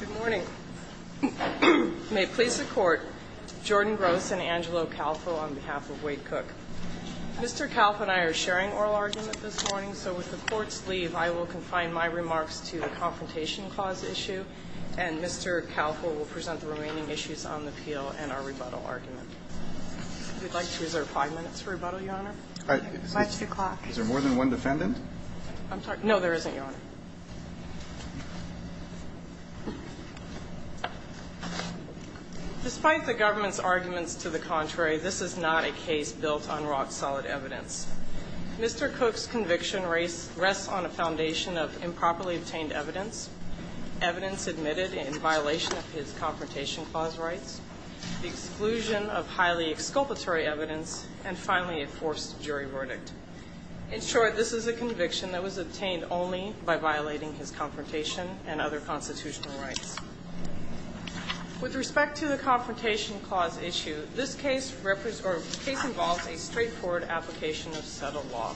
Good morning. May it please the Court, Jordan Gross and Angelo Calfo on behalf of Wade Cook. Mr. Calfo and I are sharing oral argument this morning, so with the Court's leave, I will confine my remarks to the Confrontation Clause issue, and Mr. Calfo will present the remaining issues on the appeal and our rebuttal argument. If you'd like to reserve five minutes for rebuttal, Your Honor. My two o'clock. Is there more than one defendant? I'm sorry. No, there isn't, Your Honor. Despite the government's arguments to the contrary, this is not a case built on rock-solid evidence. Mr. Cook's conviction rests on a foundation of improperly obtained evidence, evidence admitted in violation of his Confrontation Clause rights, the exclusion of highly exculpatory evidence, and finally a forced jury verdict. In short, this is a conviction that was obtained only by violating his confrontation and other constitutional rights. With respect to the Confrontation Clause issue, this case involves a straightforward application of settled law.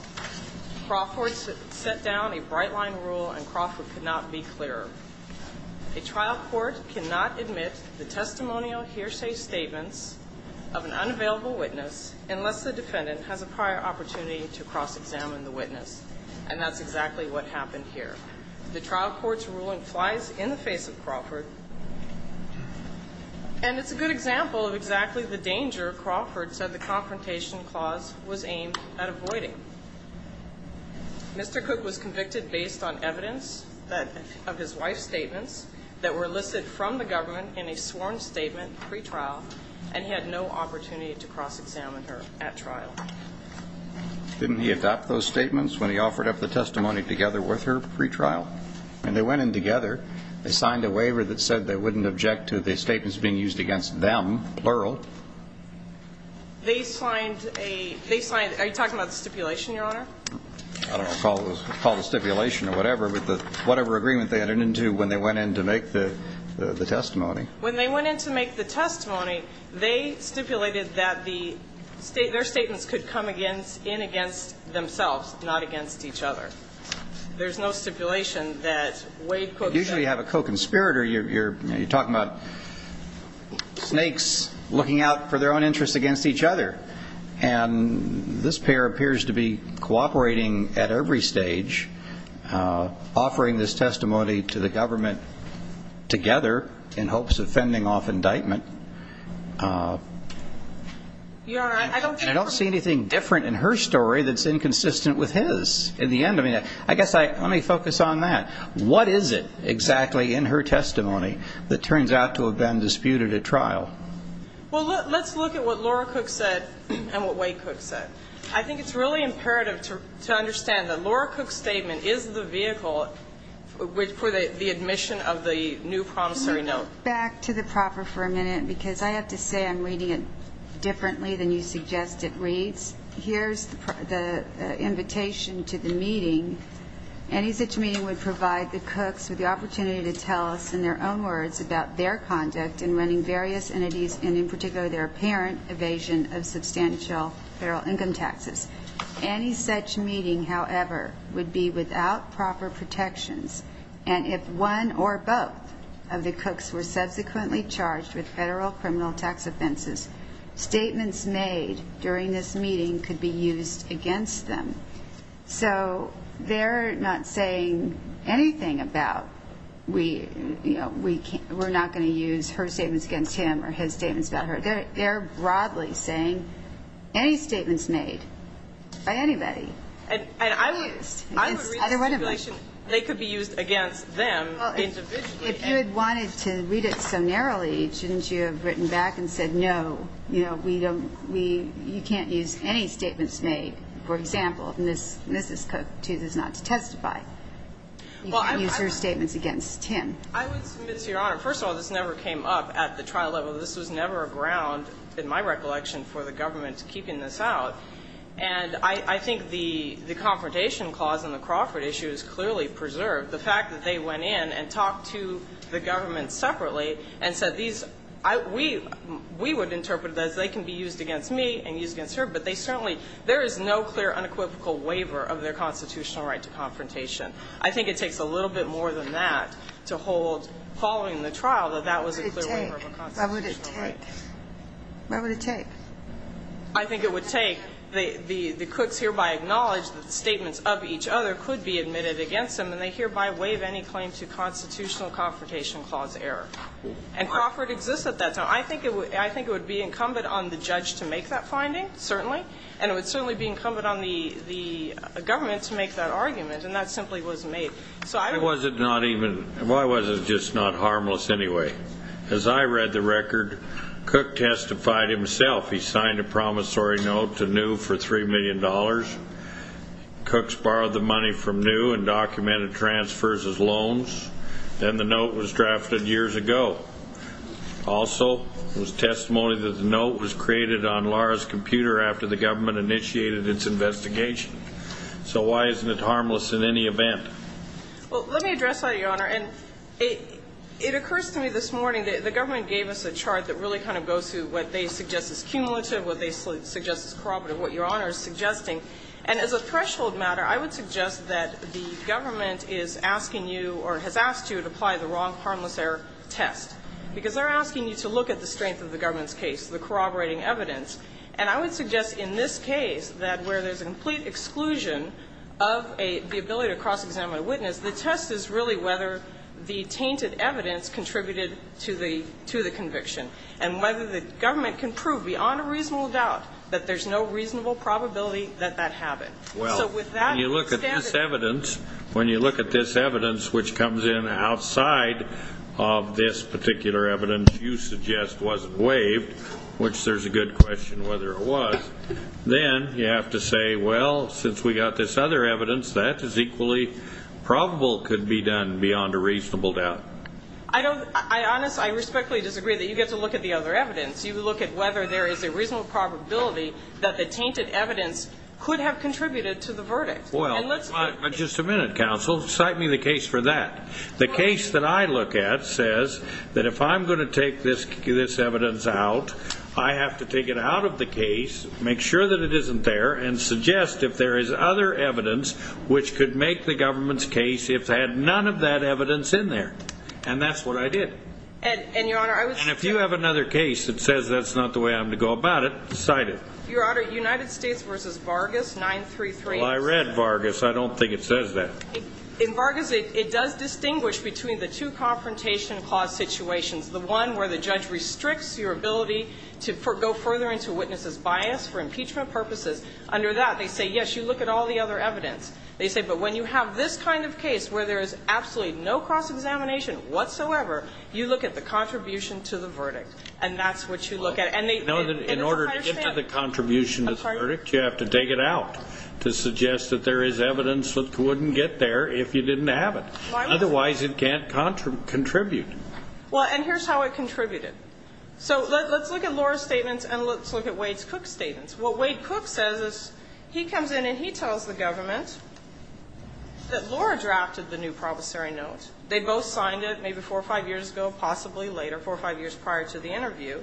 Crawford set down a bright-line rule, and Crawford could not be clearer. A trial court cannot admit the testimonial hearsay statements of an unavailable witness unless the defendant has a prior opportunity to cross-examine the witness, and that's exactly what happened here. The trial court's ruling flies in the face of Crawford, and it's a good example of exactly the danger Crawford said the Confrontation Clause was aimed at avoiding. Mr. Cook was convicted based on evidence of his wife's statements that were listed from the government in a sworn statement pre-trial, and he had no opportunity to cross-examine her at trial. Didn't he adopt those statements when he offered up the testimony together with her pre-trial? And they went in together. They signed a waiver that said they wouldn't object to the statements being used against them, plural. They signed a ñ they signed ñ are you talking about the stipulation, Your Honor? I don't recall it was called a stipulation or whatever, but whatever agreement they entered into when they went in to make the testimony. When they went in to make the testimony, they stipulated that their statements could come in against themselves, not against each other. There's no stipulation that Wade Cook said ñ You usually have a co-conspirator. You're talking about snakes looking out for their own interests against each other, and this pair appears to be cooperating at every stage, offering this testimony to the government together in hopes of fending off indictment. And I don't see anything different in her story that's inconsistent with his. In the end, I mean, I guess I ñ let me focus on that. What is it exactly in her testimony that turns out to have been disputed at trial? Well, let's look at what Laura Cook said and what Wade Cook said. I think it's really imperative to understand that Laura Cook's statement is the vehicle for the admission of the new promissory note. Back to the proper for a minute, because I have to say I'm reading it differently than you suggest it reads. Any such meeting would provide the Cooks with the opportunity to tell us in their own words about their conduct in running various entities and in particular their apparent evasion of substantial federal income taxes. Any such meeting, however, would be without proper protections, and if one or both of the Cooks were subsequently charged with federal criminal tax offenses, statements made during this meeting could be used against them. So they're not saying anything about, you know, we're not going to use her statements against him or his statements about her. They're broadly saying any statements made by anybody could be used against either one of them. I would read it as if they could be used against them individually. If you had wanted to read it so narrowly, shouldn't you have written back and said, no, you know, you can't use any statements made, for example, Mrs. Cook chooses not to testify. You can't use her statements against him. I would submit to Your Honor, first of all, this never came up at the trial level. This was never a ground, in my recollection, for the government keeping this out. And I think the confrontation clause in the Crawford issue is clearly preserved. The fact that they went in and talked to the government separately and said these, we would interpret it as they can be used against me and used against her, but they certainly, there is no clear unequivocal waiver of their constitutional right to confrontation. I think it takes a little bit more than that to hold, following the trial, that that was a clear waiver of a constitutional right. Why would it take? Why would it take? I think it would take, the Cooks hereby acknowledge that the statements of each other could be admitted against them, and they hereby waive any claim to constitutional confrontation clause error. And Crawford exists at that time. I think it would be incumbent on the judge to make that finding, certainly, and it would certainly be incumbent on the government to make that argument, and that simply was made. Why was it just not harmless anyway? As I read the record, Cook testified himself. He signed a promissory note to New for $3 million. Cooks borrowed the money from New and documented transfers as loans, and the note was drafted years ago. Also, there was testimony that the note was created on Laura's computer after the government initiated its investigation. So why isn't it harmless in any event? Well, let me address that, Your Honor. And it occurs to me this morning that the government gave us a chart that really kind of goes through what they suggest is cumulative, what they suggest is corroborative, what Your Honor is suggesting. And as a threshold matter, I would suggest that the government is asking you or has asked you to apply the wrong harmless error test, because they're asking you to look at the strength of the government's case, the corroborating evidence. And I would suggest in this case that where there's a complete exclusion of the ability to cross-examine a witness, the test is really whether the tainted evidence contributed to the conviction and whether the government can prove beyond a reasonable doubt that there's no reasonable probability that that happened. Well, when you look at this evidence, when you look at this evidence, which comes in outside of this particular evidence you suggest wasn't waived, which there's a good question whether it was, then you have to say, well, since we got this other evidence, that is equally probable could be done beyond a reasonable doubt. I honestly, I respectfully disagree that you get to look at the other evidence. You look at whether there is a reasonable probability that the tainted evidence could have contributed to the verdict. Well, just a minute, counsel. Cite me the case for that. The case that I look at says that if I'm going to take this evidence out, I have to take it out of the case, make sure that it isn't there, and suggest if there is other evidence which could make the government's case if they had none of that evidence in there. And that's what I did. And, Your Honor, I was... And if you have another case that says that's not the way I'm going to go about it, cite it. Your Honor, United States v. Vargas, 933... Well, I read Vargas. I don't think it says that. In Vargas, it does distinguish between the two confrontation clause situations, the one where the judge restricts your ability to go further into witness's bias for impeachment purposes. Under that, they say, yes, you look at all the other evidence. They say, but when you have this kind of case where there is absolutely no cross-examination whatsoever, you look at the contribution to the verdict, and that's what you look at. And they... In order to get to the contribution to the verdict, you have to take it out to suggest that there is evidence that wouldn't get there if you didn't have it. Otherwise, it can't contribute. Well, and here's how it contributed. So let's look at Laura's statements and let's look at Wade Cook's statements. What Wade Cook says is he comes in and he tells the government that Laura drafted the new promissory note. They both signed it maybe four or five years ago, possibly later, four or five years prior to the interview,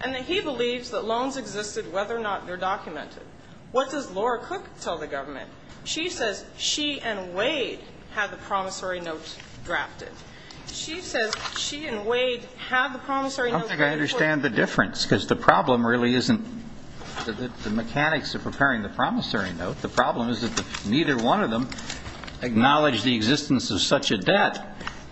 and that he believes that loans existed whether or not they're documented. What does Laura Cook tell the government? She says she and Wade had the promissory note drafted. She says she and Wade had the promissory note... I don't think I understand the difference because the problem really isn't the mechanics of preparing the promissory note. The problem is that neither one of them acknowledged the existence of such a debt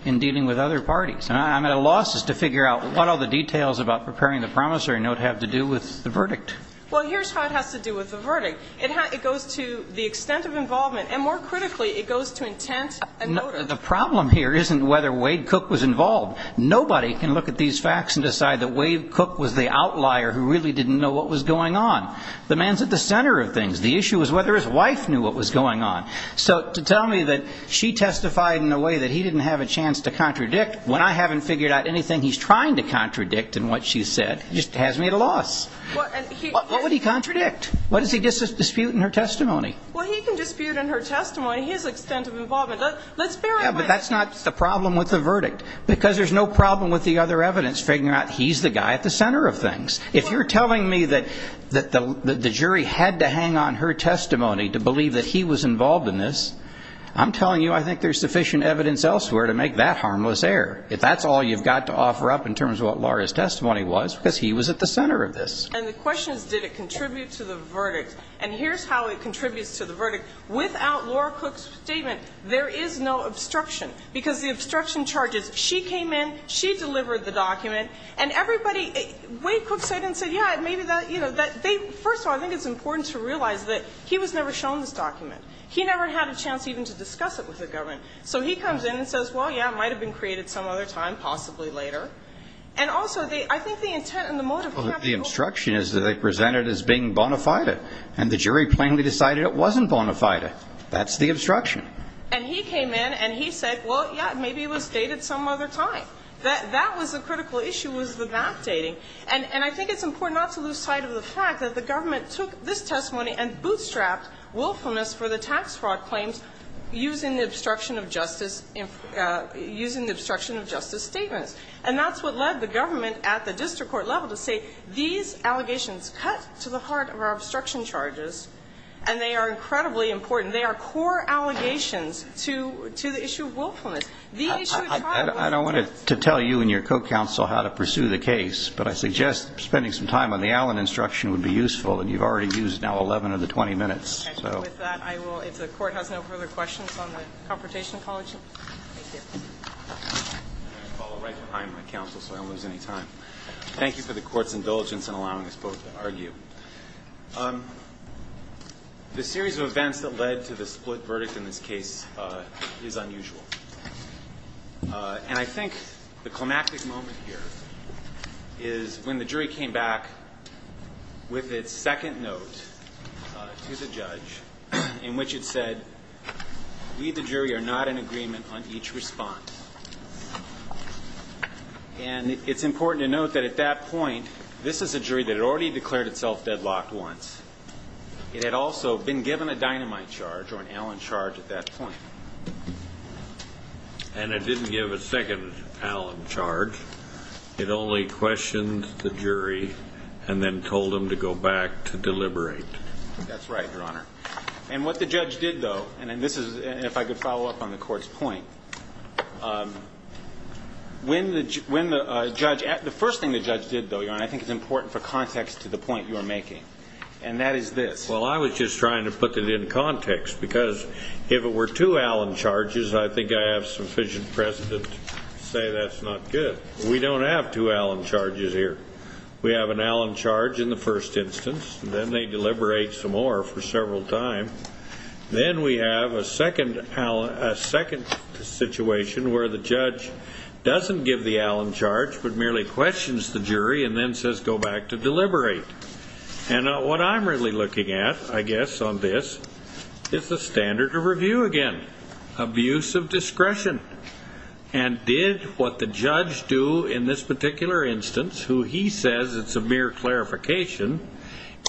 in dealing with other parties. And I'm at a loss as to figure out what all the details about preparing the promissory note have to do with the verdict. Well, here's how it has to do with the verdict. It goes to the extent of involvement, and more critically, it goes to intent and motive. The problem here isn't whether Wade Cook was involved. Nobody can look at these facts and decide that Wade Cook was the outlier who really didn't know what was going on. The man's at the center of things. The issue is whether his wife knew what was going on. So to tell me that she testified in a way that he didn't have a chance to contradict when I haven't figured out anything he's trying to contradict in what she said just has me at a loss. What would he contradict? What does he dispute in her testimony? Well, he can dispute in her testimony his extent of involvement. Let's bear in mind... Yeah, but that's not the problem with the verdict, because there's no problem with the other evidence figuring out he's the guy at the center of things. If you're telling me that the jury had to hang on her testimony to believe that he was involved in this, I'm telling you I think there's sufficient evidence elsewhere to make that harmless error. If that's all you've got to offer up in terms of what Laura's testimony was, because he was at the center of this. And the question is, did it contribute to the verdict? And here's how it contributes to the verdict. Without Laura Cooke's statement, there is no obstruction, because the obstruction charges, she came in, she delivered the document, and everybody – Wade Cooke said and said, yeah, maybe that – you know, that they – first of all, I think it's important to realize that he was never shown this document. He never had a chance even to discuss it with the government. So he comes in and says, well, yeah, it might have been created some other time, possibly later. And also, I think the intent and the motive... Well, the obstruction is that they present it as being bona fide, and the jury plainly decided it wasn't bona fide. That's the obstruction. And he came in and he said, well, yeah, maybe it was dated some other time. That was the critical issue, was the backdating. And I think it's important not to lose sight of the fact that the government took this testimony and bootstrapped willfulness for the tax fraud claims using the obstruction of justice – using the obstruction of justice statements. The allegations cut to the heart of our obstruction charges, and they are incredibly important. They are core allegations to the issue of willfulness. The issue of trial... I don't want to tell you and your co-counsel how to pursue the case, but I suggest spending some time on the Allen instruction would be useful. And you've already used now 11 of the 20 minutes. Okay. So with that, I will – if the Court has no further questions on the confrontation apology. Thank you. I'm going to follow right behind my counsel so I don't lose any time. Thank you for the Court's indulgence in allowing us both to argue. The series of events that led to the split verdict in this case is unusual. And I think the climactic moment here is when the jury came back with its second note to the judge in which it said, we, the jury, are not in agreement on each response. And it's important to note that at that point, this is a jury that had already declared itself deadlocked once. It had also been given a dynamite charge or an Allen charge at that point. And it didn't give a second Allen charge. It only questioned the jury and then told them to go back to deliberate. That's right, Your Honor. And what the judge did, though, and this is – if I could follow up on the first thing the judge did, though, Your Honor, I think it's important for context to the point you are making, and that is this. Well, I was just trying to put it in context because if it were two Allen charges, I think I have sufficient precedent to say that's not good. We don't have two Allen charges here. We have an Allen charge in the first instance. Then they deliberate some more for several times. Then we have a second situation where the judge doesn't give the Allen charge but merely questions the jury and then says go back to deliberate. And what I'm really looking at, I guess, on this is the standard of review again, abuse of discretion. And did what the judge do in this particular instance, who he says it's a mere clarification,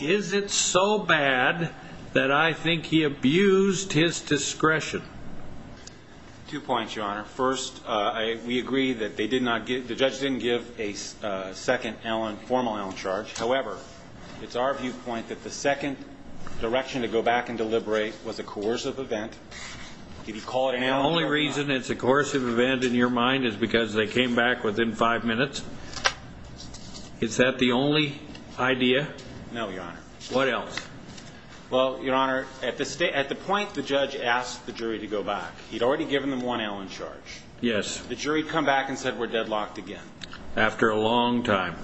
is it so bad that I think he abused his discretion? Two points, Your Honor. First, we agree that they did not give – the judge didn't give a second Allen – formal Allen charge. However, it's our viewpoint that the second direction to go back and deliberate was a coercive event. Did he call it an Allen charge? The only reason it's a coercive event in your mind is because they came back within five minutes. Is that the only idea? No, Your Honor. What else? Well, Your Honor, at the point the judge asked the jury to go back, he'd already given them one Allen charge. Yes. The jury had come back and said we're deadlocked again. After a long time.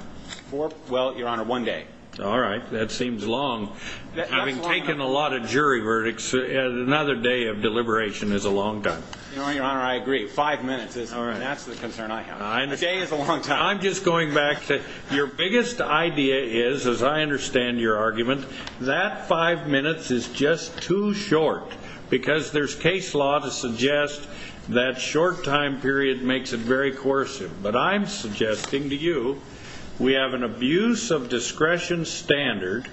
Well, Your Honor, one day. All right. That seems long. Having taken a lot of jury verdicts, another day of deliberation is a long time. Your Honor, I agree. Five minutes, that's the concern I have. A day is a long time. I'm just going back to your biggest idea is, as I understand your argument, that five minutes is just too short because there's case law to suggest that short time period makes it very coercive. But I'm suggesting to you we have an abuse of discretion standard.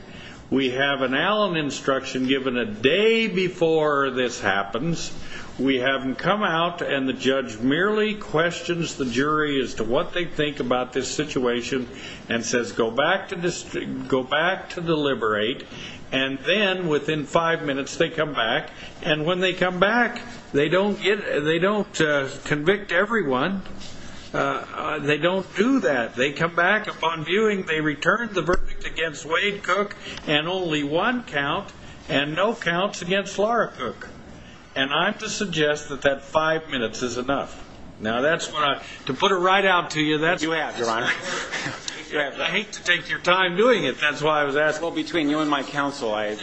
We have an Allen instruction given a day before this happens. We have them come out and the judge merely questions the jury as to what they think about this situation and says go back to deliberate. And then within five minutes, they come back. And when they come back, they don't convict everyone. They don't do that. They come back upon viewing, they return the verdict against Wade Cook and only one count and no counts against Laura Cook. And I have to suggest that that five minutes is enough. Now, to put it right out to you, that's what you have, Your Honor. I hate to take your time doing it. That's why I was asking. Well, between you and my counsel, I've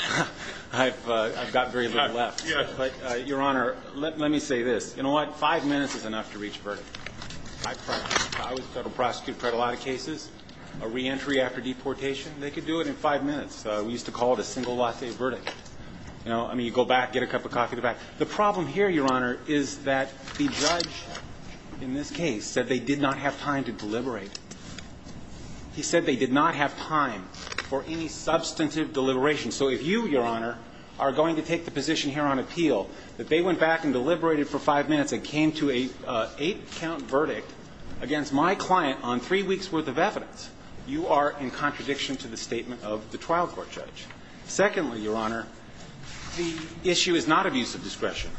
got very little left. But, Your Honor, let me say this. You know what? Five minutes is enough to reach a verdict. I was a federal prosecutor, tried a lot of cases. A reentry after deportation, they could do it in five minutes. We used to call it a single latte verdict. I mean, you go back, get a cup of coffee, go back. The problem here, Your Honor, is that the judge, in this case, said they did not have time to deliberate. He said they did not have time for any substantive deliberation. So if you, Your Honor, are going to take the position here on appeal that they went back and deliberated for five minutes and came to an eight-count verdict against my client on three weeks' worth of evidence, you are in contradiction to the statement of the trial court judge. Secondly, Your Honor, the issue is not abuse of discretion.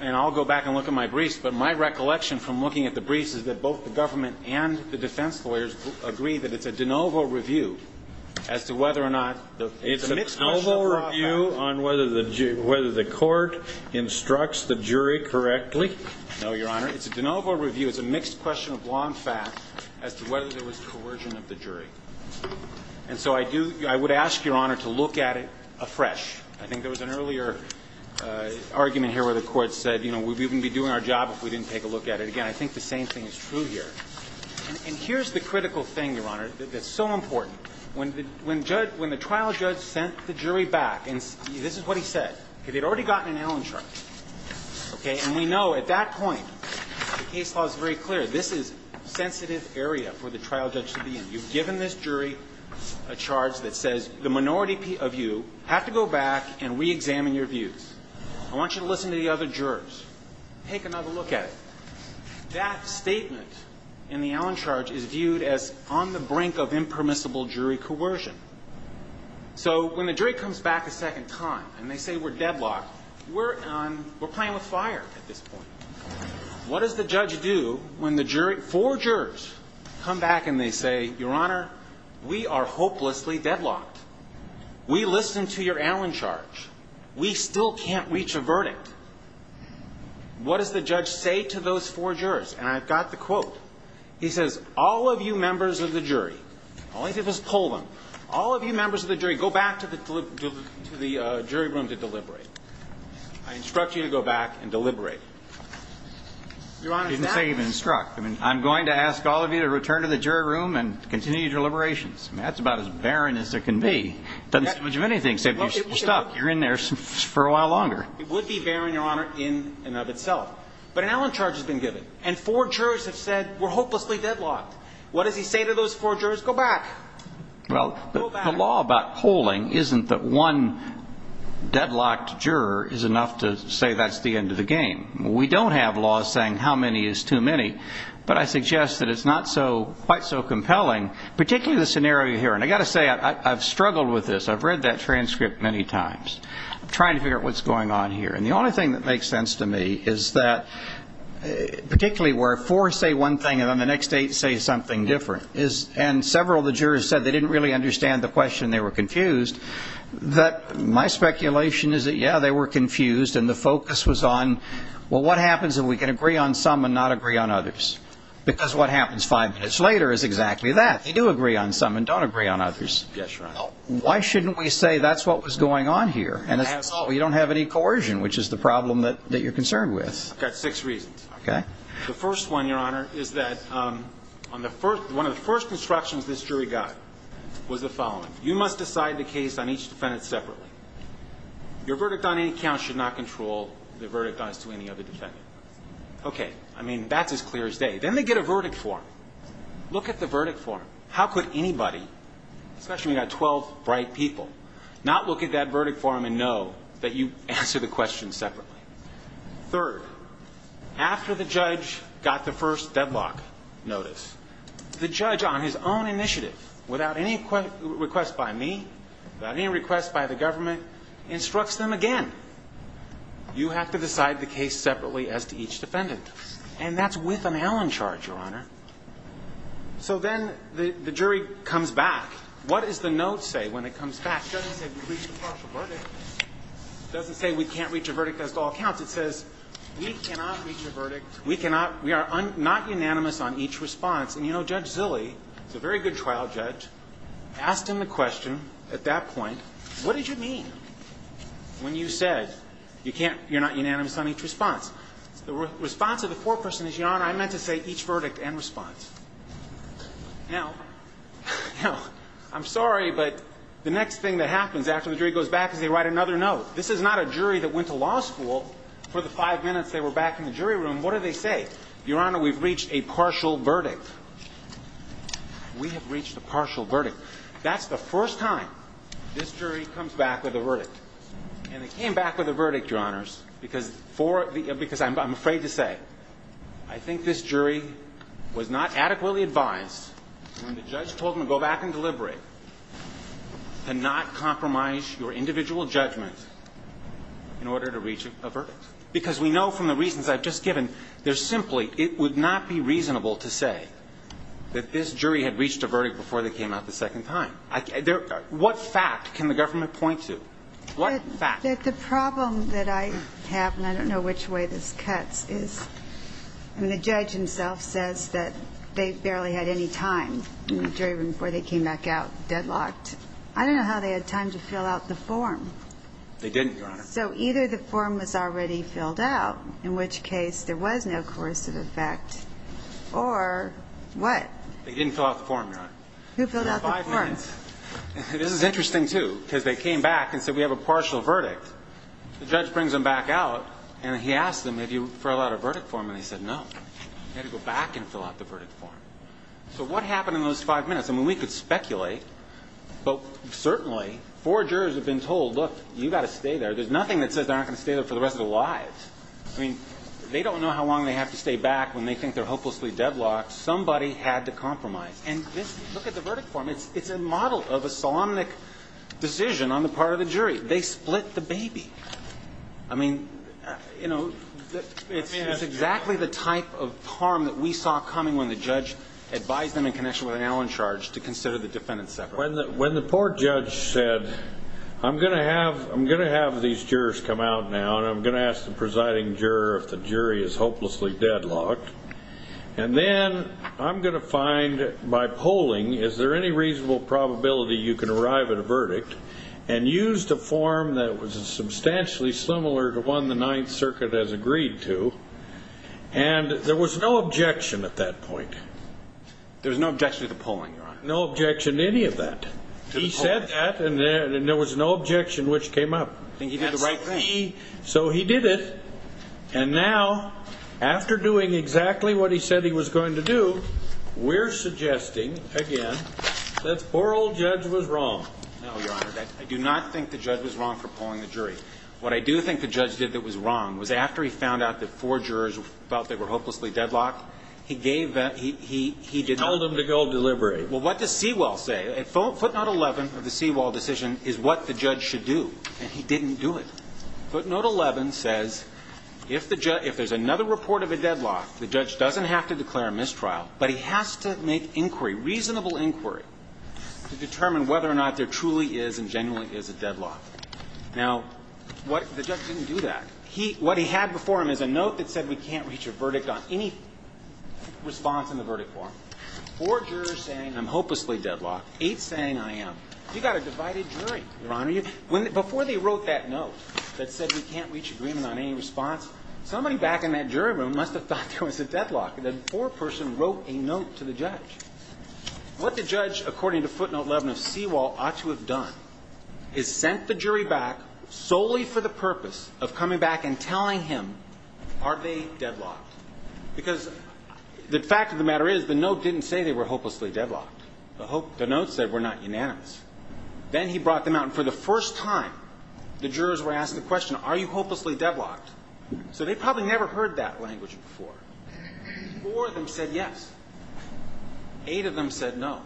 And I'll go back and look at my briefs. But my recollection from looking at the briefs is that both the government and the defense lawyers agree that it's a de novo review as to whether or not the mixed question of law fact. It's a de novo review on whether the court instructs the jury correctly? No, Your Honor. It's a de novo review. It's a mixed question of law and fact as to whether there was coercion of the jury. And so I do – I would ask, Your Honor, to look at it afresh. I think there was an earlier argument here where the court said, you know, we wouldn't be doing our job if we didn't take a look at it. Again, I think the same thing is true here. And here's the critical thing, Your Honor, that's so important. When the trial judge sent the jury back – and this is what he said. They had already gotten an Allen charge. Okay? And we know at that point the case law is very clear. This is sensitive area for the trial judge to be in. You've given this jury a charge that says the minority of you have to go back and reexamine your views. I want you to listen to the other jurors. Take another look at it. That statement in the Allen charge is viewed as on the brink of impermissible jury coercion. So when the jury comes back a second time and they say we're deadlocked, we're on – we're playing with fire at this point. What does the judge do when the jury – four jurors come back and they say, Your Honor, we are hopelessly deadlocked. We listened to your Allen charge. We still can't reach a verdict. What does the judge say to those four jurors? And I've got the quote. He says, all of you members of the jury – all I did was pull them. All of you members of the jury, go back to the jury room to deliberate. I instruct you to go back and deliberate. He didn't say instruct. I'm going to ask all of you to return to the jury room and continue your deliberations. That's about as barren as it can be. It doesn't say much of anything except you're stuck. You're in there for a while longer. It would be barren, Your Honor, in and of itself. But an Allen charge has been given. And four jurors have said we're hopelessly deadlocked. What does he say to those four jurors? Go back. Well, the law about polling isn't that one deadlocked juror is enough to say that's the end of the game. We don't have laws saying how many is too many. But I suggest that it's not quite so compelling, particularly the scenario you're hearing. I've got to say, I've struggled with this. I've read that transcript many times. I'm trying to figure out what's going on here. And the only thing that makes sense to me is that particularly where four say one thing and then the next eight say something different is and several of the jurors said they didn't really understand the question, they were confused, that my speculation is that, yeah, they were confused and the focus was on, well, what happens if we can agree on some and not agree on others? Because what happens five minutes later is exactly that. They do agree on some and don't agree on others. Yes, Your Honor. Why shouldn't we say that's what was going on here? And you don't have any coercion, which is the problem that you're concerned with. I've got six reasons. Okay. The first one, Your Honor, is that one of the first instructions this jury got was the following. You must decide the case on each defendant separately. Your verdict on any count should not control the verdict as to any other defendant. Okay. I mean, that's as clear as day. Then they get a verdict form. Look at the verdict form. How could anybody, especially when you've got 12 bright people, not look at that verdict form and know that you answered the question separately? Third, after the judge got the first deadlock notice, the judge on his own initiative, without any request by me, without any request by the government, instructs them again. You have to decide the case separately as to each defendant. And that's with an Allen charge, Your Honor. So then the jury comes back. What does the note say when it comes back? It doesn't say we can't reach a partial verdict. It doesn't say we can't reach a verdict as to all counts. It says we cannot reach a verdict. We are not unanimous on each response. And, you know, Judge Zille, who's a very good trial judge, asked him the question at that point, what did you mean when you said you're not unanimous on each response? The response of the court person is, Your Honor, I meant to say each verdict and response. Now, I'm sorry, but the next thing that happens after the jury goes back is they write another note. This is not a jury that went to law school. For the five minutes they were back in the jury room, what did they say? Your Honor, we've reached a partial verdict. We have reached a partial verdict. That's the first time this jury comes back with a verdict. And they came back with a verdict, Your Honors, because I'm afraid to say, I think this jury was not adequately advised when the judge told them to go back and deliberate to not compromise your individual judgment in order to reach a verdict. Because we know from the reasons I've just given, they're simply it would not be reasonable to say that this jury had reached a verdict before they came out the second time. What fact can the government point to? What fact? The problem that I have, and I don't know which way this cuts, is the judge himself says that they barely had any time in the jury room before they came back out deadlocked. I don't know how they had time to fill out the form. They didn't, Your Honor. So either the form was already filled out, in which case there was no coercive effect, or what? They didn't fill out the form, Your Honor. Who filled out the form? This is interesting, too, because they came back and said, we have a partial verdict. The judge brings them back out, and he asks them, have you filled out a verdict form? And they said, no. They had to go back and fill out the verdict form. So what happened in those five minutes? I mean, we could speculate, but certainly four jurors have been told, look, you've got to stay there. There's nothing that says they're not going to stay there for the rest of their lives. I mean, they don't know how long they have to stay back when they think they're hopelessly deadlocked. Somebody had to compromise. And look at the verdict form. It's a model of a solemnic decision on the part of the jury. They split the baby. I mean, you know, it's exactly the type of harm that we saw coming when the judge advised them in connection with an Allen charge to consider the defendant separate. When the poor judge said, I'm going to have these jurors come out now, and I'm going to ask the presiding juror if the jury is hopelessly deadlocked, and then I'm going to find by polling, is there any reasonable probability you can arrive at a verdict, and used a form that was substantially similar to one the Ninth Circuit has agreed to, and there was no objection at that point. There was no objection to the polling, Your Honor. No objection to any of that. He said that, and there was no objection which came up. I think he did the right thing. So he did it, and now after doing exactly what he said he was going to do, we're suggesting, again, that the poor old judge was wrong. No, Your Honor. I do not think the judge was wrong for polling the jury. What I do think the judge did that was wrong was after he found out that four jurors felt they were hopelessly deadlocked, he gave that, he did that. He told them to go deliberate. Well, what does Seawall say? Footnote 11 of the Seawall decision is what the judge should do, and he didn't do it. Footnote 11 says if there's another report of a deadlock, the judge doesn't have to declare a mistrial, but he has to make inquiry, reasonable inquiry, to determine whether or not there truly is and genuinely is a deadlock. Now, the judge didn't do that. What he had before him is a note that said we can't reach a verdict on any response in the verdict form. Four jurors saying I'm hopelessly deadlocked, eight saying I am. You've got a divided jury, Your Honor. Before they wrote that note that said we can't reach agreement on any response, somebody back in that jury room must have thought there was a deadlock. That poor person wrote a note to the judge. What the judge, according to footnote 11 of Seawall, ought to have done is sent the jury back solely for the purpose of coming back and telling him are they deadlocked? Because the fact of the matter is the note didn't say they were hopelessly deadlocked. The note said we're not unanimous. Then he brought them out, and for the first time the jurors were asked the question, are you hopelessly deadlocked? So they probably never heard that language before. Four of them said yes. Eight of them said no.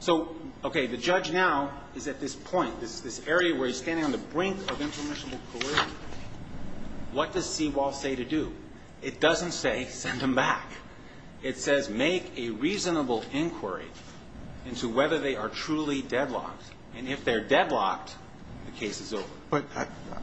So, okay, the judge now is at this point, this area where he's standing on the brink of impermissible collision. What does Seawall say to do? It doesn't say send them back. It says make a reasonable inquiry into whether they are truly deadlocked. And if they're deadlocked, the case is over. But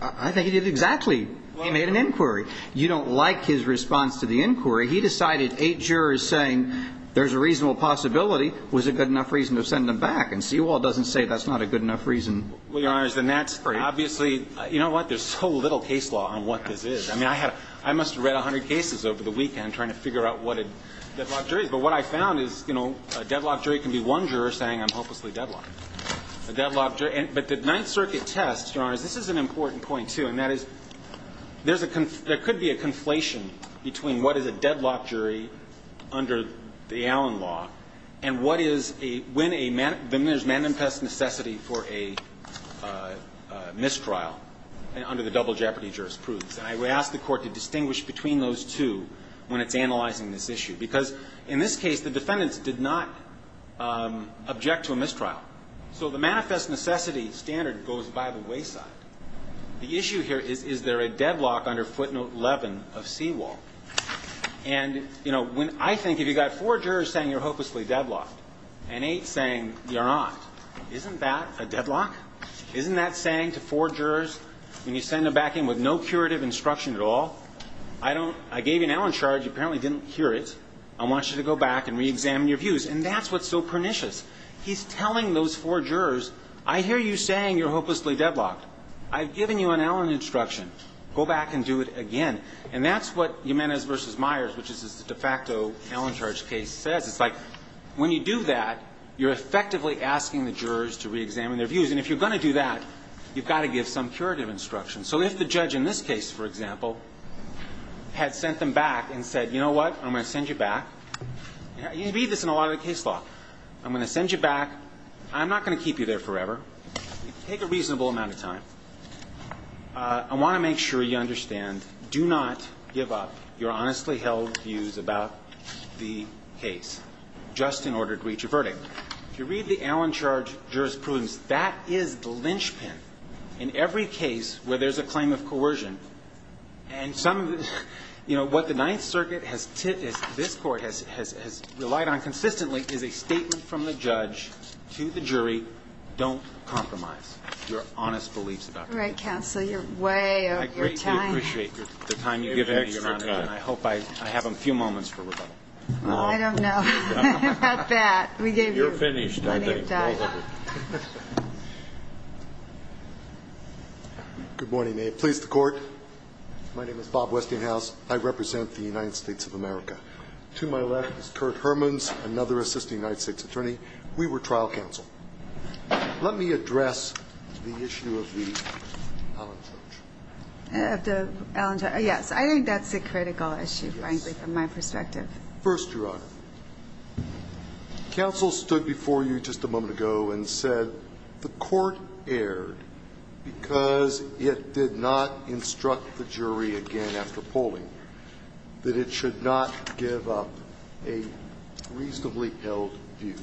I think he did exactly. He made an inquiry. You don't like his response to the inquiry. He decided eight jurors saying there's a reasonable possibility was a good enough reason to send them back, and Seawall doesn't say that's not a good enough reason. Well, Your Honor, then that's obviously you know what? There's so little case law on what this is. I mean, I must have read 100 cases over the weekend trying to figure out what a deadlocked jury is. But what I found is, you know, a deadlocked jury can be one juror saying I'm hopelessly deadlocked. A deadlocked jury – but the Ninth Circuit test, Your Honor, this is an important point, too, and that is there's a – there could be a conflation between what is a deadlocked jury under the Allen law and what is a – when a – when there's manifest necessity for a mistrial under the double jeopardy jurors' proofs. And I would ask the Court to distinguish between those two when it's analyzing this issue. Because in this case, the defendants did not object to a mistrial. So the manifest necessity standard goes by the wayside. The issue here is, is there a deadlock under footnote 11 of Seawall? And, you know, when I think if you've got four jurors saying you're hopelessly deadlocked and eight saying you're not, isn't that a deadlock? Isn't that saying to four jurors when you send them back in with no curative instruction at all, I don't – I gave you an Allen charge. You apparently didn't hear it. I want you to go back and reexamine your views. And that's what's so pernicious. He's telling those four jurors, I hear you saying you're hopelessly deadlocked. I've given you an Allen instruction. Go back and do it again. And that's what Jimenez v. Myers, which is a de facto Allen charge case, says. It's like when you do that, you're effectively asking the jurors to reexamine their views. And if you're going to do that, you've got to give some curative instruction. So if the judge in this case, for example, had sent them back and said, you know what? I'm going to send you back. You read this in a lot of the case law. I'm going to send you back. I'm not going to keep you there forever. Take a reasonable amount of time. I want to make sure you understand, do not give up your honestly held views about the case just in order to reach a verdict. If you read the Allen charge jurisprudence, that is the linchpin in every case where there's a claim of coercion. And what the Ninth Circuit has relied on consistently is a statement from the judge to the jury, don't compromise your honest beliefs about the case. All right, counsel. You're way over your time. I greatly appreciate the time you've given me, Your Honor. And I hope I have a few moments for rebuttal. I don't know about that. We gave you plenty of time. Good morning. May it please the court. My name is Bob Westinghouse. I represent the United States of America. To my left is Kurt Hermans, another assisting United States attorney. We were trial counsel. Let me address the issue of the Allen charge. Yes, I think that's a critical issue, frankly, from my perspective. First, Your Honor, counsel stood before you just a moment ago and said the court erred because it did not instruct the jury again after polling that it should not give up a reasonably held view.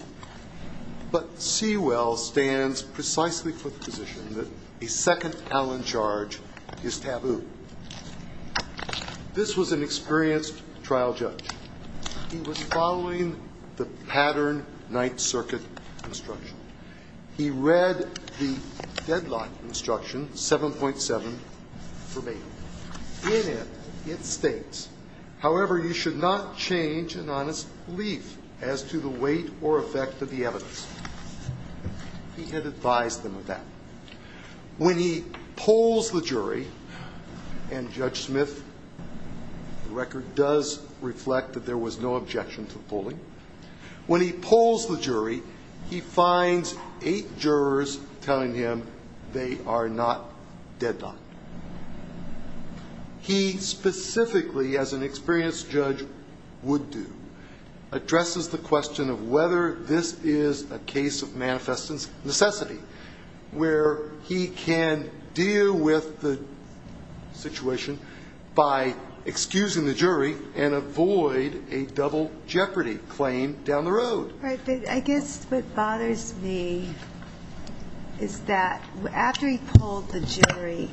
But Sewell stands precisely for the position that a second Allen charge is taboo. This was an experienced trial judge. He was following the pattern Ninth Circuit instruction. He read the deadlock instruction, 7.7, for me. In it, it states, however, you should not change an honest belief as to the weight or effect of the evidence. He had advised them of that. When he polls the jury, and Judge Smith, the record does reflect that there was no objection to the polling. When he polls the jury, he finds eight jurors telling him they are not deadlocked. He specifically, as an experienced judge would do, addresses the question of whether this is a case of manifest necessity, where he can deal with the situation by excusing the jury and avoid a double jeopardy claim down the road. I guess what bothers me is that after he polled the jury,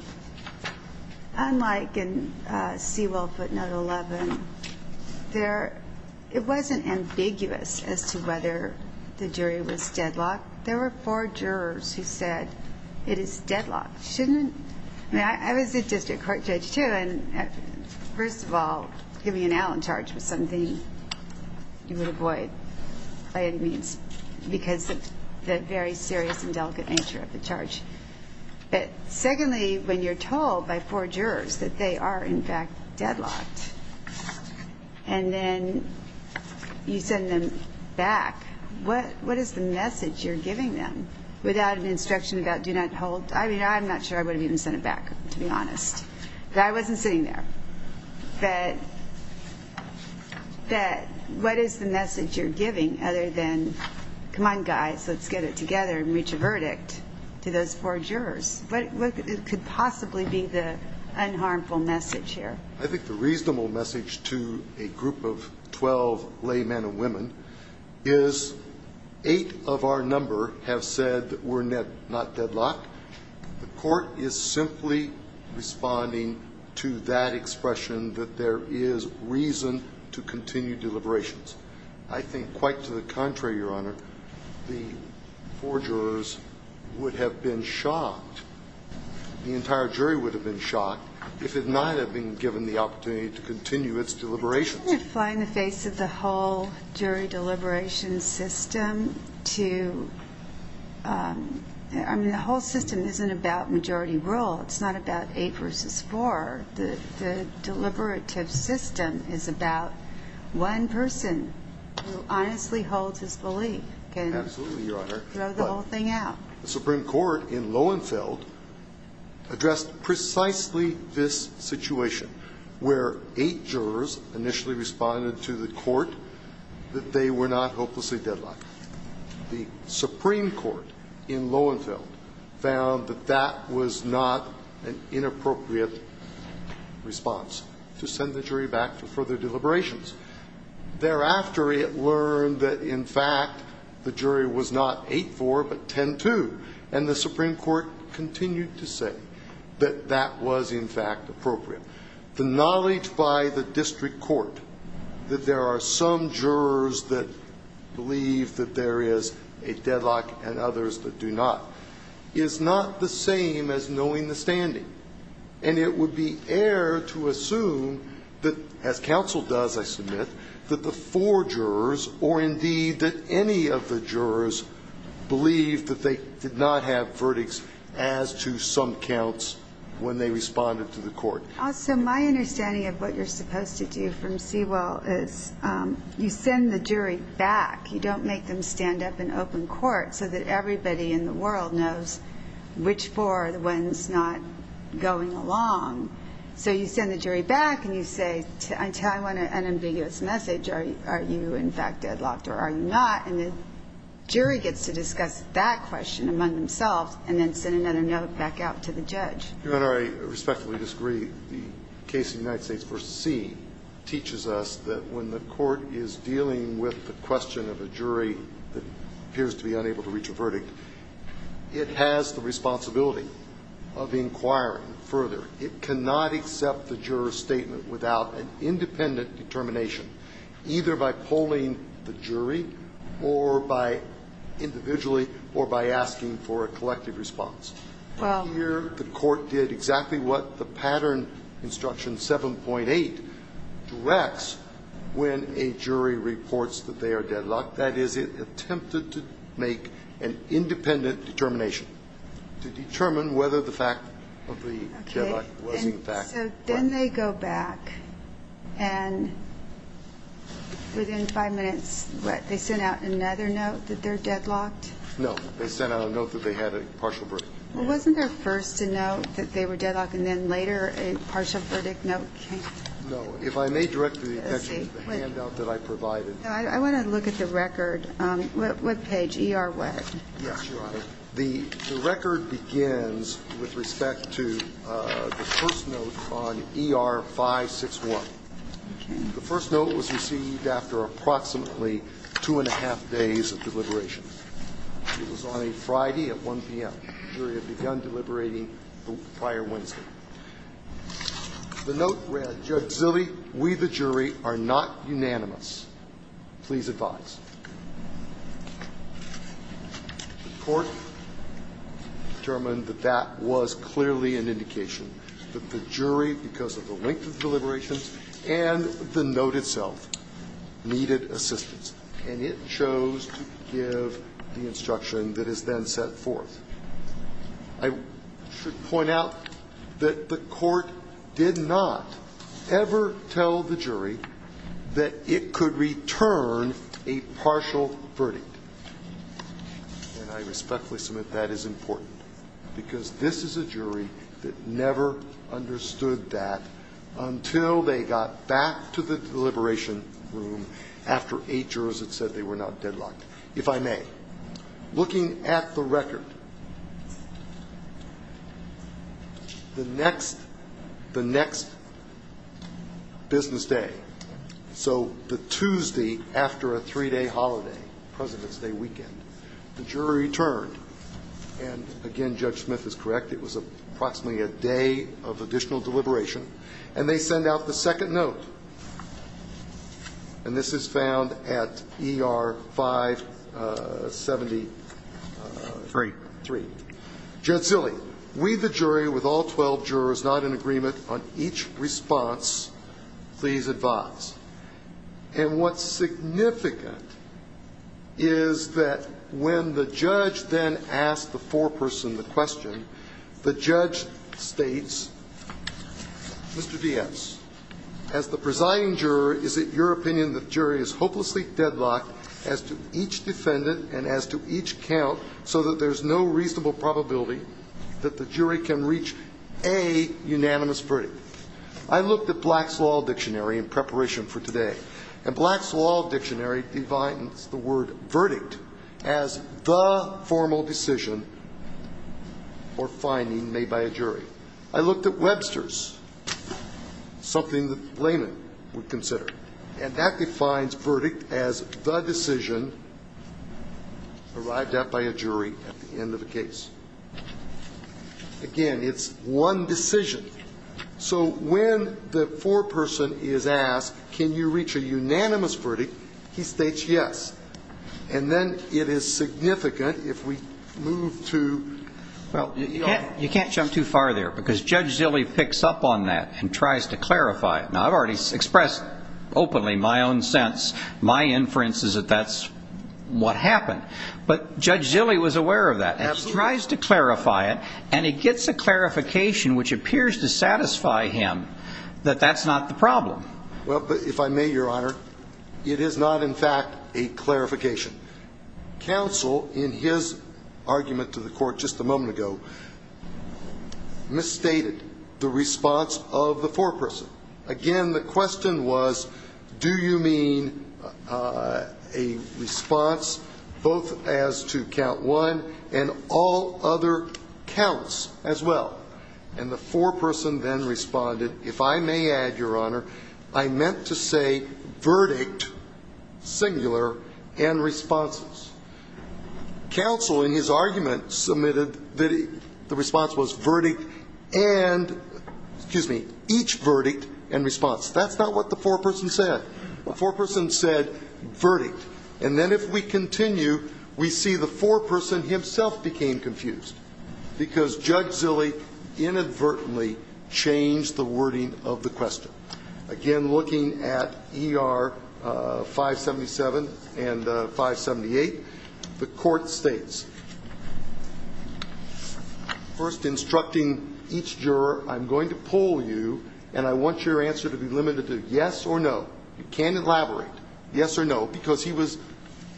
unlike in Sewell footnote 11, it wasn't ambiguous as to whether the jury was deadlocked. There were four jurors who said it is deadlocked. I was a district court judge, too. First of all, giving an out on charge was something you would avoid by any means because of the very serious and delicate nature of the charge. Secondly, when you're told by four jurors that they are, in fact, deadlocked, and then you send them back, what is the message you're giving them without an instruction about do not hold? I mean, I'm not sure I would have even sent it back, to be honest. I wasn't sitting there. But what is the message you're giving other than, come on, guys, let's get it together and reach a verdict to those four jurors? What could possibly be the unharmful message here? I think the reasonable message to a group of 12 lay men and women is eight of our number have said that we're not deadlocked. The court is simply responding to that expression that there is reason to continue deliberations. I think quite to the contrary, Your Honor, the four jurors would have been shocked. The entire jury would have been shocked if it might have been given the opportunity to continue its deliberations. Doesn't it fly in the face of the whole jury deliberation system to ‑‑ I mean, the whole system isn't about majority rule. It's not about eight versus four. The deliberative system is about one person who honestly holds his belief can throw the whole thing out. Absolutely, Your Honor. The Supreme Court in Lowenfeld addressed precisely this situation where eight jurors initially responded to the court that they were not hopelessly deadlocked. The Supreme Court in Lowenfeld found that that was not an inappropriate response to send the jury back for further deliberations. Thereafter, it learned that, in fact, the jury was not eight for but ten to. And the Supreme Court continued to say that that was, in fact, appropriate. The knowledge by the district court that there are some jurors that believe that there is a deadlock and others that do not is not the same as knowing the standing. And it would be air to assume that, as counsel does, I submit, that the four jurors or, indeed, that any of the jurors believe that they did not have verdicts as to some counts when they responded to the court. Also, my understanding of what you're supposed to do from Sewell is you send the jury back. You don't make them stand up in open court so that everybody in the world knows which four are the ones not going along. So you send the jury back and you say, until I want an ambiguous message, are you, in fact, deadlocked or are you not? And the jury gets to discuss that question among themselves and then send another note back out to the judge. Your Honor, I respectfully disagree. The case of the United States v. C. teaches us that when the court is dealing with the question of a jury that appears to be unable to reach a verdict, it has the responsibility of inquiring further. It cannot accept the juror's statement without an independent determination, either by polling the jury or by individually or by asking for a collective response. Here the court did exactly what the pattern instruction 7.8 directs when a jury reports that they are deadlocked. That is, it attempted to make an independent determination to determine whether the fact of the deadlock was, in fact, correct. Okay. So then they go back and within five minutes, what, they sent out another note that they're deadlocked? No. They sent out a note that they had a partial verdict. Well, wasn't there first a note that they were deadlocked and then later a partial verdict note came? No. If I may direct your attention to the handout that I provided. I want to look at the record. What page? E.R. what? Yes, Your Honor. The record begins with respect to the first note on E.R. 561. The first note was received after approximately two and a half days of deliberation. It was on a Friday at 1 p.m. The jury had begun deliberating the prior Wednesday. The note read, Judge Zille, we, the jury, are not unanimous. Please advise. The court determined that that was clearly an indication that the jury, because of the length of deliberations and the note itself, needed assistance. And it chose to give the instruction that is then set forth. I should point out that the court did not ever tell the jury that it could return a partial verdict. And I respectfully submit that is important, because this is a jury that never understood that until they got back to the deliberation room after eight jurors had said they were not deadlocked. If I may, looking at the record, the next business day, so the Tuesday after a three-day holiday, President's Day weekend, the jury returned. And, again, Judge Smith is correct. It was approximately a day of additional deliberation. And they send out the second note. And this is found at ER 573. Judge Zille, we, the jury, with all 12 jurors, not in agreement on each response. Please advise. And what's significant is that when the judge then asked the foreperson the question, the judge states, Mr. Diaz, as the presiding juror, is it your opinion that the jury is hopelessly deadlocked as to each defendant and as to each count so that there's no reasonable probability that the jury can reach a unanimous verdict? I looked at Black's Law Dictionary in preparation for today. And Black's Law Dictionary defines the word verdict as the formal decision or finding made by a jury. I looked at Webster's, something that laymen would consider. And that defines verdict as the decision arrived at by a jury at the end of a case. Again, it's one decision. So when the foreperson is asked, can you reach a unanimous verdict, he states yes. And then it is significant if we move to ER. Well, you can't jump too far there because Judge Zille picks up on that and tries to clarify it. Now, I've already expressed openly my own sense, my inference is that that's what happened. But Judge Zille was aware of that. Absolutely. And he tries to clarify it. And he gets a clarification which appears to satisfy him that that's not the problem. Well, if I may, Your Honor, it is not, in fact, a clarification. Counsel, in his argument to the court just a moment ago, misstated the response of the foreperson. Again, the question was, do you mean a response both as to count one and all other counts as well? And the foreperson then responded, if I may add, Your Honor, I meant to say verdict, singular, and responses. Counsel, in his argument, submitted that the response was verdict and, excuse me, each verdict and response. That's not what the foreperson said. The foreperson said verdict. And then if we continue, we see the foreperson himself became confused because Judge Zille inadvertently changed the wording of the question. Again, looking at ER 577 and 578, the court states, first instructing each juror, I'm going to pull you and I want your answer to be limited to yes or no. You can't elaborate, yes or no, because he was,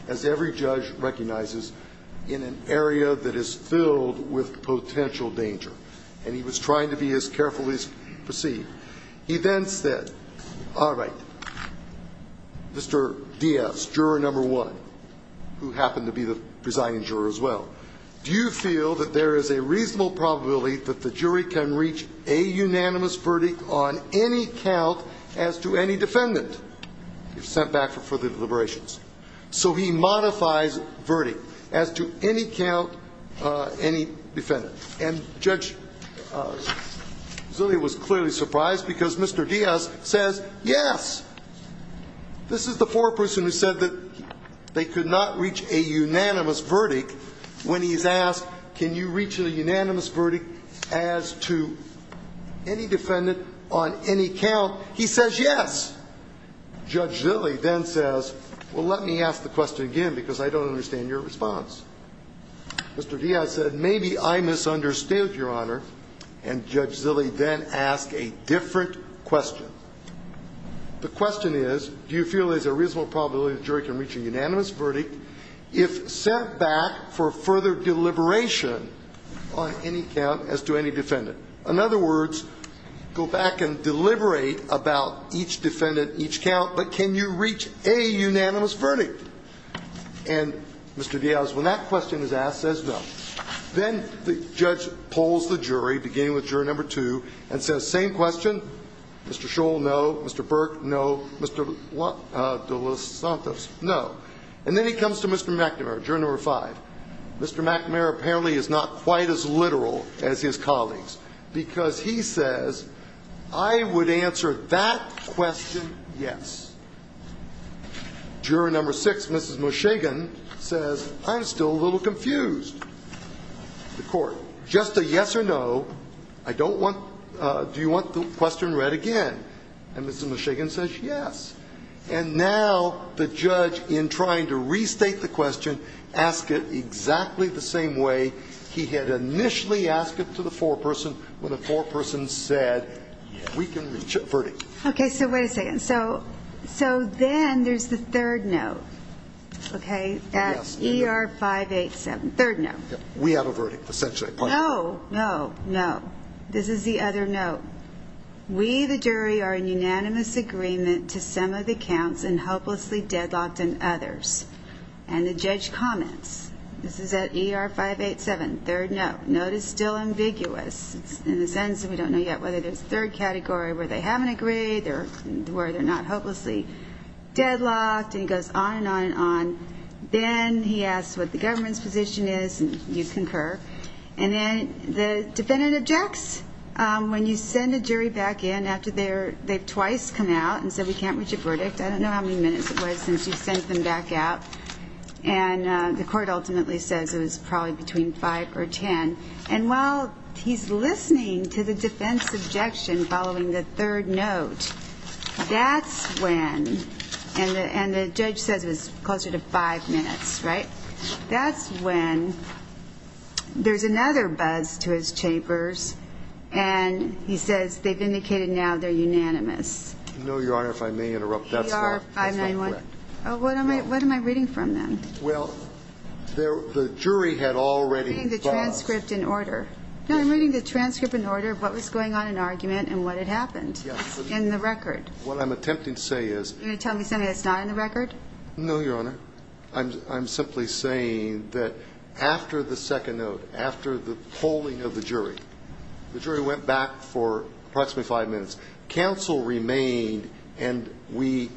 as every judge recognizes, in an area that is filled with potential danger. And he was trying to be as careful as he could be. He then said, all right, Mr. Diaz, juror number one, who happened to be the presiding juror as well, do you feel that there is a reasonable probability that the jury can reach a unanimous verdict on any count as to any defendant? You're sent back for further deliberations. So he modifies verdict as to any count, any defendant. And Judge Zille was clearly surprised because Mr. Diaz says yes. This is the foreperson who said that they could not reach a unanimous verdict when he's asked, can you reach a unanimous verdict as to any defendant on any count? He says yes. Judge Zille then says, well, let me ask the question again because I don't understand your response. Mr. Diaz said, maybe I misunderstood, Your Honor. And Judge Zille then asked a different question. The question is, do you feel there's a reasonable probability the jury can reach a unanimous verdict if sent back for further deliberation on any count as to any defendant? In other words, go back and deliberate about each defendant, each count, but can you reach a unanimous verdict? All right. And Mr. Diaz, when that question is asked, says no. Then the judge polls the jury, beginning with juror number two, and says same question. Mr. Scholl, no. Mr. Burke, no. Mr. De Los Santos, no. And then he comes to Mr. McNamara, juror number five. Mr. McNamara apparently is not quite as literal as his colleagues because he says, I would answer that question yes. Juror number six, Mrs. Moshegan, says, I'm still a little confused. The court, just a yes or no. I don't want, do you want the question read again? And Mrs. Moshegan says yes. And now the judge, in trying to restate the question, asked it exactly the same way he had initially asked it to the foreperson when the foreperson said we can reach a verdict. Okay. So wait a second. So then there's the third no, okay, at ER587. Third no. We have a verdict, essentially. No, no, no. This is the other no. We, the jury, are in unanimous agreement to some of the counts and hopelessly deadlocked on others. And the judge comments, this is at ER587, third no. That note is still ambiguous in the sense that we don't know yet whether there's third category where they haven't agreed or where they're not hopelessly deadlocked, and he goes on and on and on. Then he asks what the government's position is, and you concur. And then the defendant objects. When you send a jury back in after they've twice come out and said we can't reach a verdict, I don't know how many minutes it was since you sent them back out, and the court ultimately says it was probably between five or ten. And while he's listening to the defense objection following the third note, that's when, and the judge says it was closer to five minutes, right? That's when there's another buzz to his chambers, and he says they've indicated now they're unanimous. No, Your Honor, if I may interrupt, that's not correct. What am I reading from them? Well, the jury had already buzzed. I'm reading the transcript in order. No, I'm reading the transcript in order of what was going on in argument and what had happened in the record. What I'm attempting to say is you're going to tell me something that's not in the record? No, Your Honor. I'm simply saying that after the second note, after the polling of the jury, the jury went back for approximately five minutes. Counsel remained, and we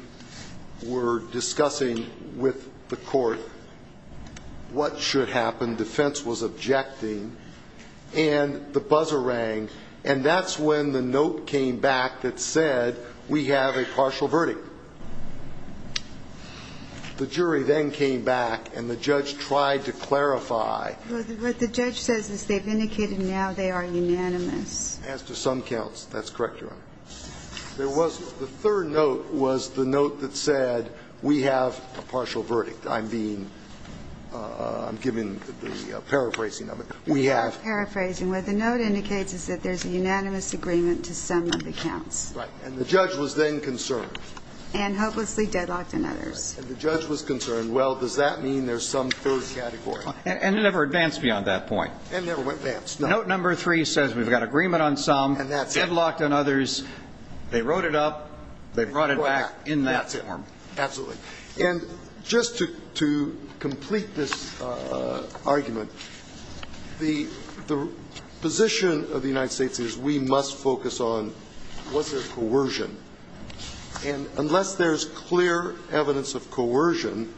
were discussing with the court what should happen. Defense was objecting, and the buzzer rang. And that's when the note came back that said we have a partial verdict. The jury then came back, and the judge tried to clarify. Well, what the judge says is they've indicated now they are unanimous. As to some counts. That's correct, Your Honor. There was the third note was the note that said we have a partial verdict. I'm being – I'm giving the paraphrasing of it. We have. I'm paraphrasing. What the note indicates is that there's a unanimous agreement to some of the counts. Right. And the judge was then concerned. And hopelessly deadlocked on others. Right. And the judge was concerned. Well, does that mean there's some third category? And it never advanced beyond that point. And it never advanced. Note number three says we've got agreement on some. And that's it. Deadlocked on others. They wrote it up. They brought it back in that form. That's it, Your Honor. Absolutely. And just to complete this argument, the position of the United States is we must focus on was there coercion. And unless there's clear evidence of coercion,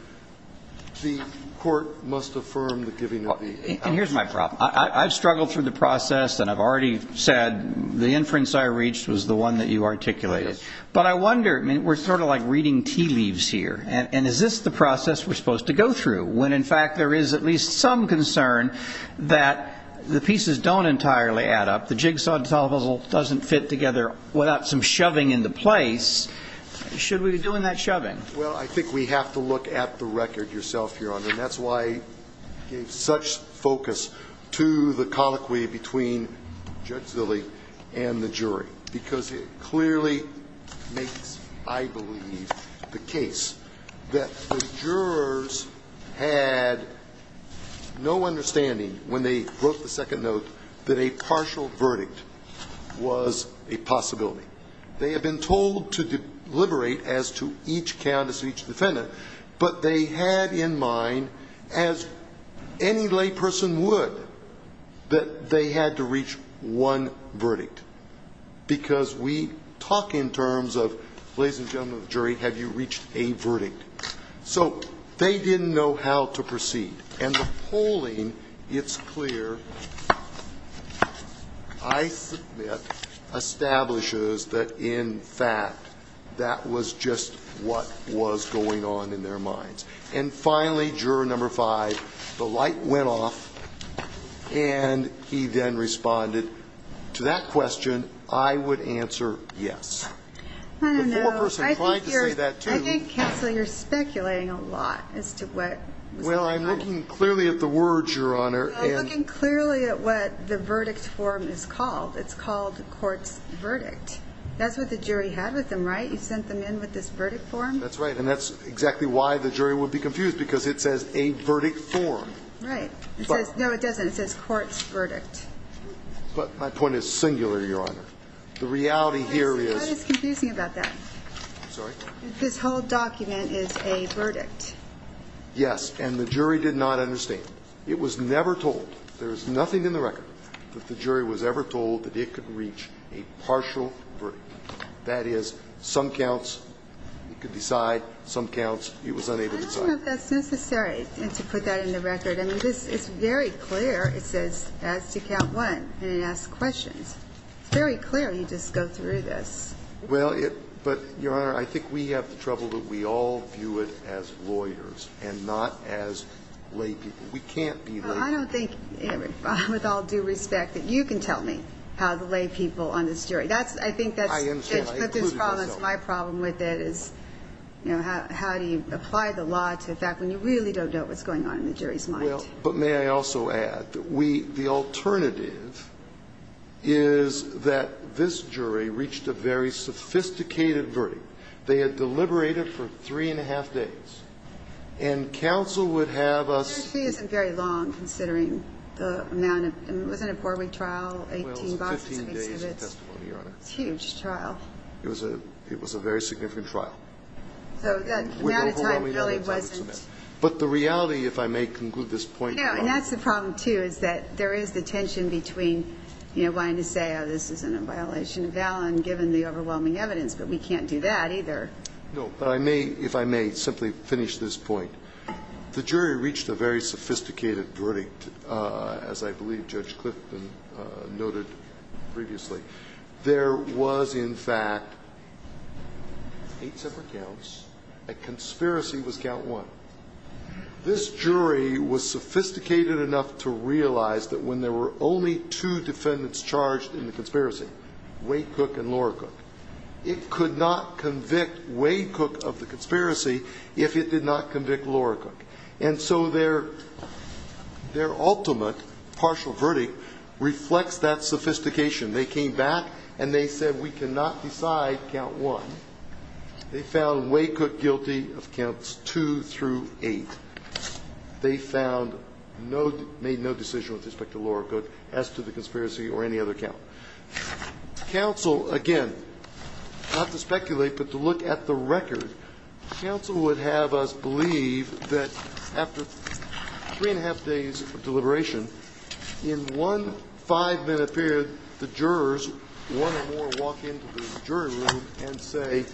the court must affirm the giving of the evidence. And here's my problem. I've struggled through the process. And I've already said the inference I reached was the one that you articulated. Yes. But I wonder. I mean, we're sort of like reading tea leaves here. And is this the process we're supposed to go through when, in fact, there is at least some concern that the pieces don't entirely add up, the jigsaw puzzle doesn't fit together without some shoving into place? Should we be doing that shoving? Well, I think we have to look at the record yourself, Your Honor. And that's why I gave such focus to the colloquy between Judge Zille and the jury. Because it clearly makes, I believe, the case that the jurors had no understanding when they wrote the second note that a partial verdict was a possibility. They had been told to deliberate as to each count as to each defendant. But they had in mind, as any layperson would, that they had to reach one verdict. Because we talk in terms of, ladies and gentlemen of the jury, have you reached a verdict? So they didn't know how to proceed. And the polling, it's clear, I submit, establishes that, in fact, that was just what was going on in their minds. And finally, Juror No. 5, the light went off, and he then responded to that question, I would answer yes. I don't know. The foreperson tried to say that too. I think, Counselor, you're speculating a lot as to what was going on. Well, I'm looking clearly at the words, Your Honor. You're looking clearly at what the verdict form is called. It's called court's verdict. That's what the jury had with them, right? You sent them in with this verdict form? That's right. And that's exactly why the jury would be confused, because it says a verdict form. Right. No, it doesn't. It says court's verdict. But my point is singular, Your Honor. The reality here is this whole document is a verdict. Yes. And the jury did not understand. It was never told. There is nothing in the record that the jury was ever told that it could reach a partial verdict. That is, some counts it could decide, some counts it was unable to decide. I don't know if that's necessary to put that in the record. I mean, this is very clear. It says as to count one, and it asks questions. It's very clear you just go through this. Well, but, Your Honor, I think we have the trouble that we all view it as lawyers and not as laypeople. We can't be laypeople. Well, I don't think, with all due respect, that you can tell me how the laypeople on this jury. I think that's the problem. I understand. I included myself. My problem with it is, you know, how do you apply the law to a fact when you really don't know what's going on in the jury's mind? Well, but may I also add that we – the alternative is that this jury reached a very sophisticated verdict. They had deliberated for three and a half days, and counsel would have us – The jury isn't very long, considering the amount of – it wasn't a four-week trial, 18 boxes of exhibits. Well, it was 15 days of testimony, Your Honor. It's a huge trial. It was a very significant trial. So the amount of time really wasn't – But the reality, if I may conclude this point, Your Honor – Yeah. And that's the problem, too, is that there is the tension between, you know, wanting to say, oh, this is a violation of valen, given the overwhelming evidence. But we can't do that, either. No. But I may, if I may, simply finish this point. The jury reached a very sophisticated verdict, as I believe Judge Clifton noted previously. There was, in fact, eight separate counts. A conspiracy was count one. This jury was sophisticated enough to realize that when there were only two defendants charged in the conspiracy, Waycook and Loracook, it could not convict Waycook of the conspiracy if it did not convict Loracook. And so their ultimate partial verdict reflects that sophistication. They came back, and they said, we cannot decide count one. They found Waycook guilty of counts two through eight. They found no – made no decision with respect to Loracook as to the conspiracy or any other count. Counsel, again, not to speculate but to look at the record, counsel would have us believe that after three and a half days of deliberation, in one five-minute period, the jurors, one or more, walk into the jury room and say,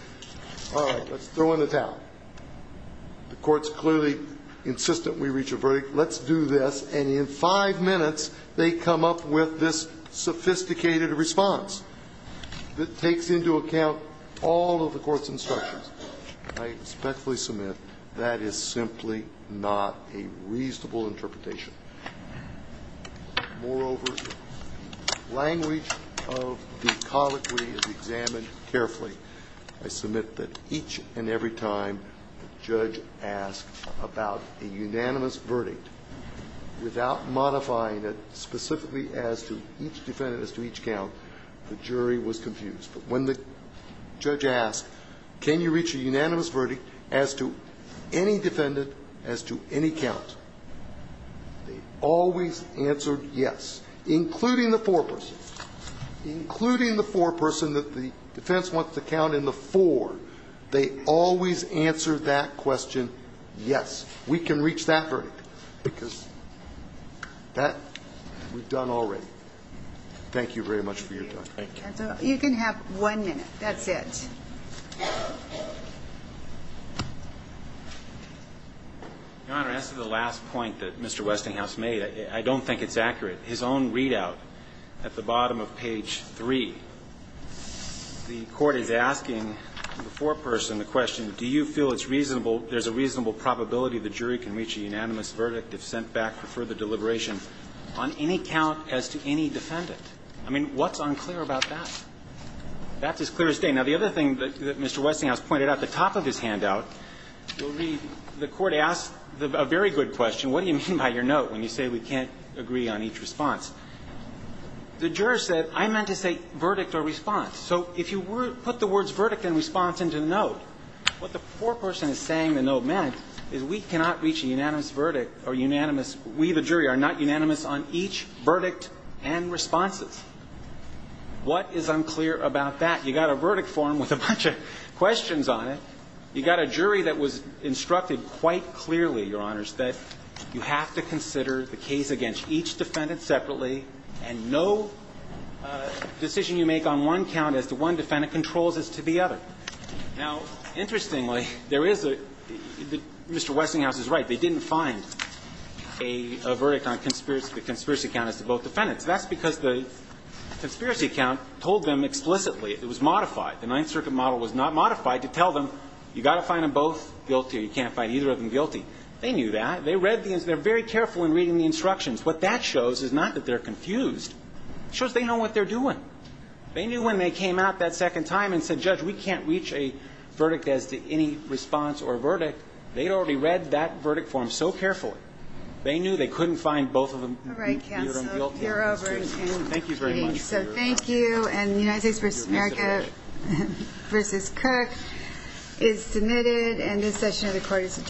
all right, let's throw in the towel. The court's clearly insistent we reach a verdict. Let's do this. And in five minutes, they come up with this sophisticated response that takes into account all of the court's instructions. I respectfully submit that is simply not a reasonable interpretation. Moreover, language of the colloquy is examined carefully. I submit that each and every time the judge asked about a unanimous verdict, without modifying it specifically as to each defendant as to each count, the jury was confused. But when the judge asked, can you reach a unanimous verdict as to any defendant as to any count, they always answered yes, including the foreperson, including the foreperson that the defense wants to count in the four. They always answered that question yes. We can reach that verdict because that we've done already. Thank you very much for your time. Thank you. You can have one minute. That's it. Your Honor, as to the last point that Mr. Westinghouse made, I don't think it's accurate. His own readout at the bottom of page 3, the court is asking the foreperson the question, do you feel it's reasonable, there's a reasonable probability the jury can reach a unanimous verdict if sent back for further deliberation on any count as to any defendant? I mean, what's unclear about that? That's as clear as day. Now, the other thing that Mr. Westinghouse pointed out at the top of his handout, you'll read, the court asked a very good question, what do you mean by your note when you say we can't agree on each response? The juror said, I meant to say verdict or response. So if you put the words verdict and response into the note, what the foreperson is saying the note meant is we cannot reach a unanimous verdict or unanimous we, the jury, are not unanimous on each verdict and responses. What is unclear about that? You've got a verdict form with a bunch of questions on it. You've got a jury that was instructed quite clearly, Your Honors, that you have to consider the case against each defendant separately and no decision you make on one count as to one defendant controls as to the other. Now, interestingly, there is a Mr. Westinghouse is right. They didn't find a verdict on the conspiracy count as to both defendants. That's because the conspiracy count told them explicitly it was modified. The Ninth Circuit model was not modified to tell them you've got to find them both guilty or you can't find either of them guilty. They knew that. They read the instructions. They're very careful in reading the instructions. What that shows is not that they're confused. It shows they know what they're doing. They knew when they came out that second time and said, Judge, we can't reach a verdict as to any response or verdict. They'd already read that verdict form so carefully. They knew they couldn't find both of them guilty. All right, counsel. You're over. Thank you very much. Thank you. And United States v. America v. Cook is submitted. And this session of the court is adjourned.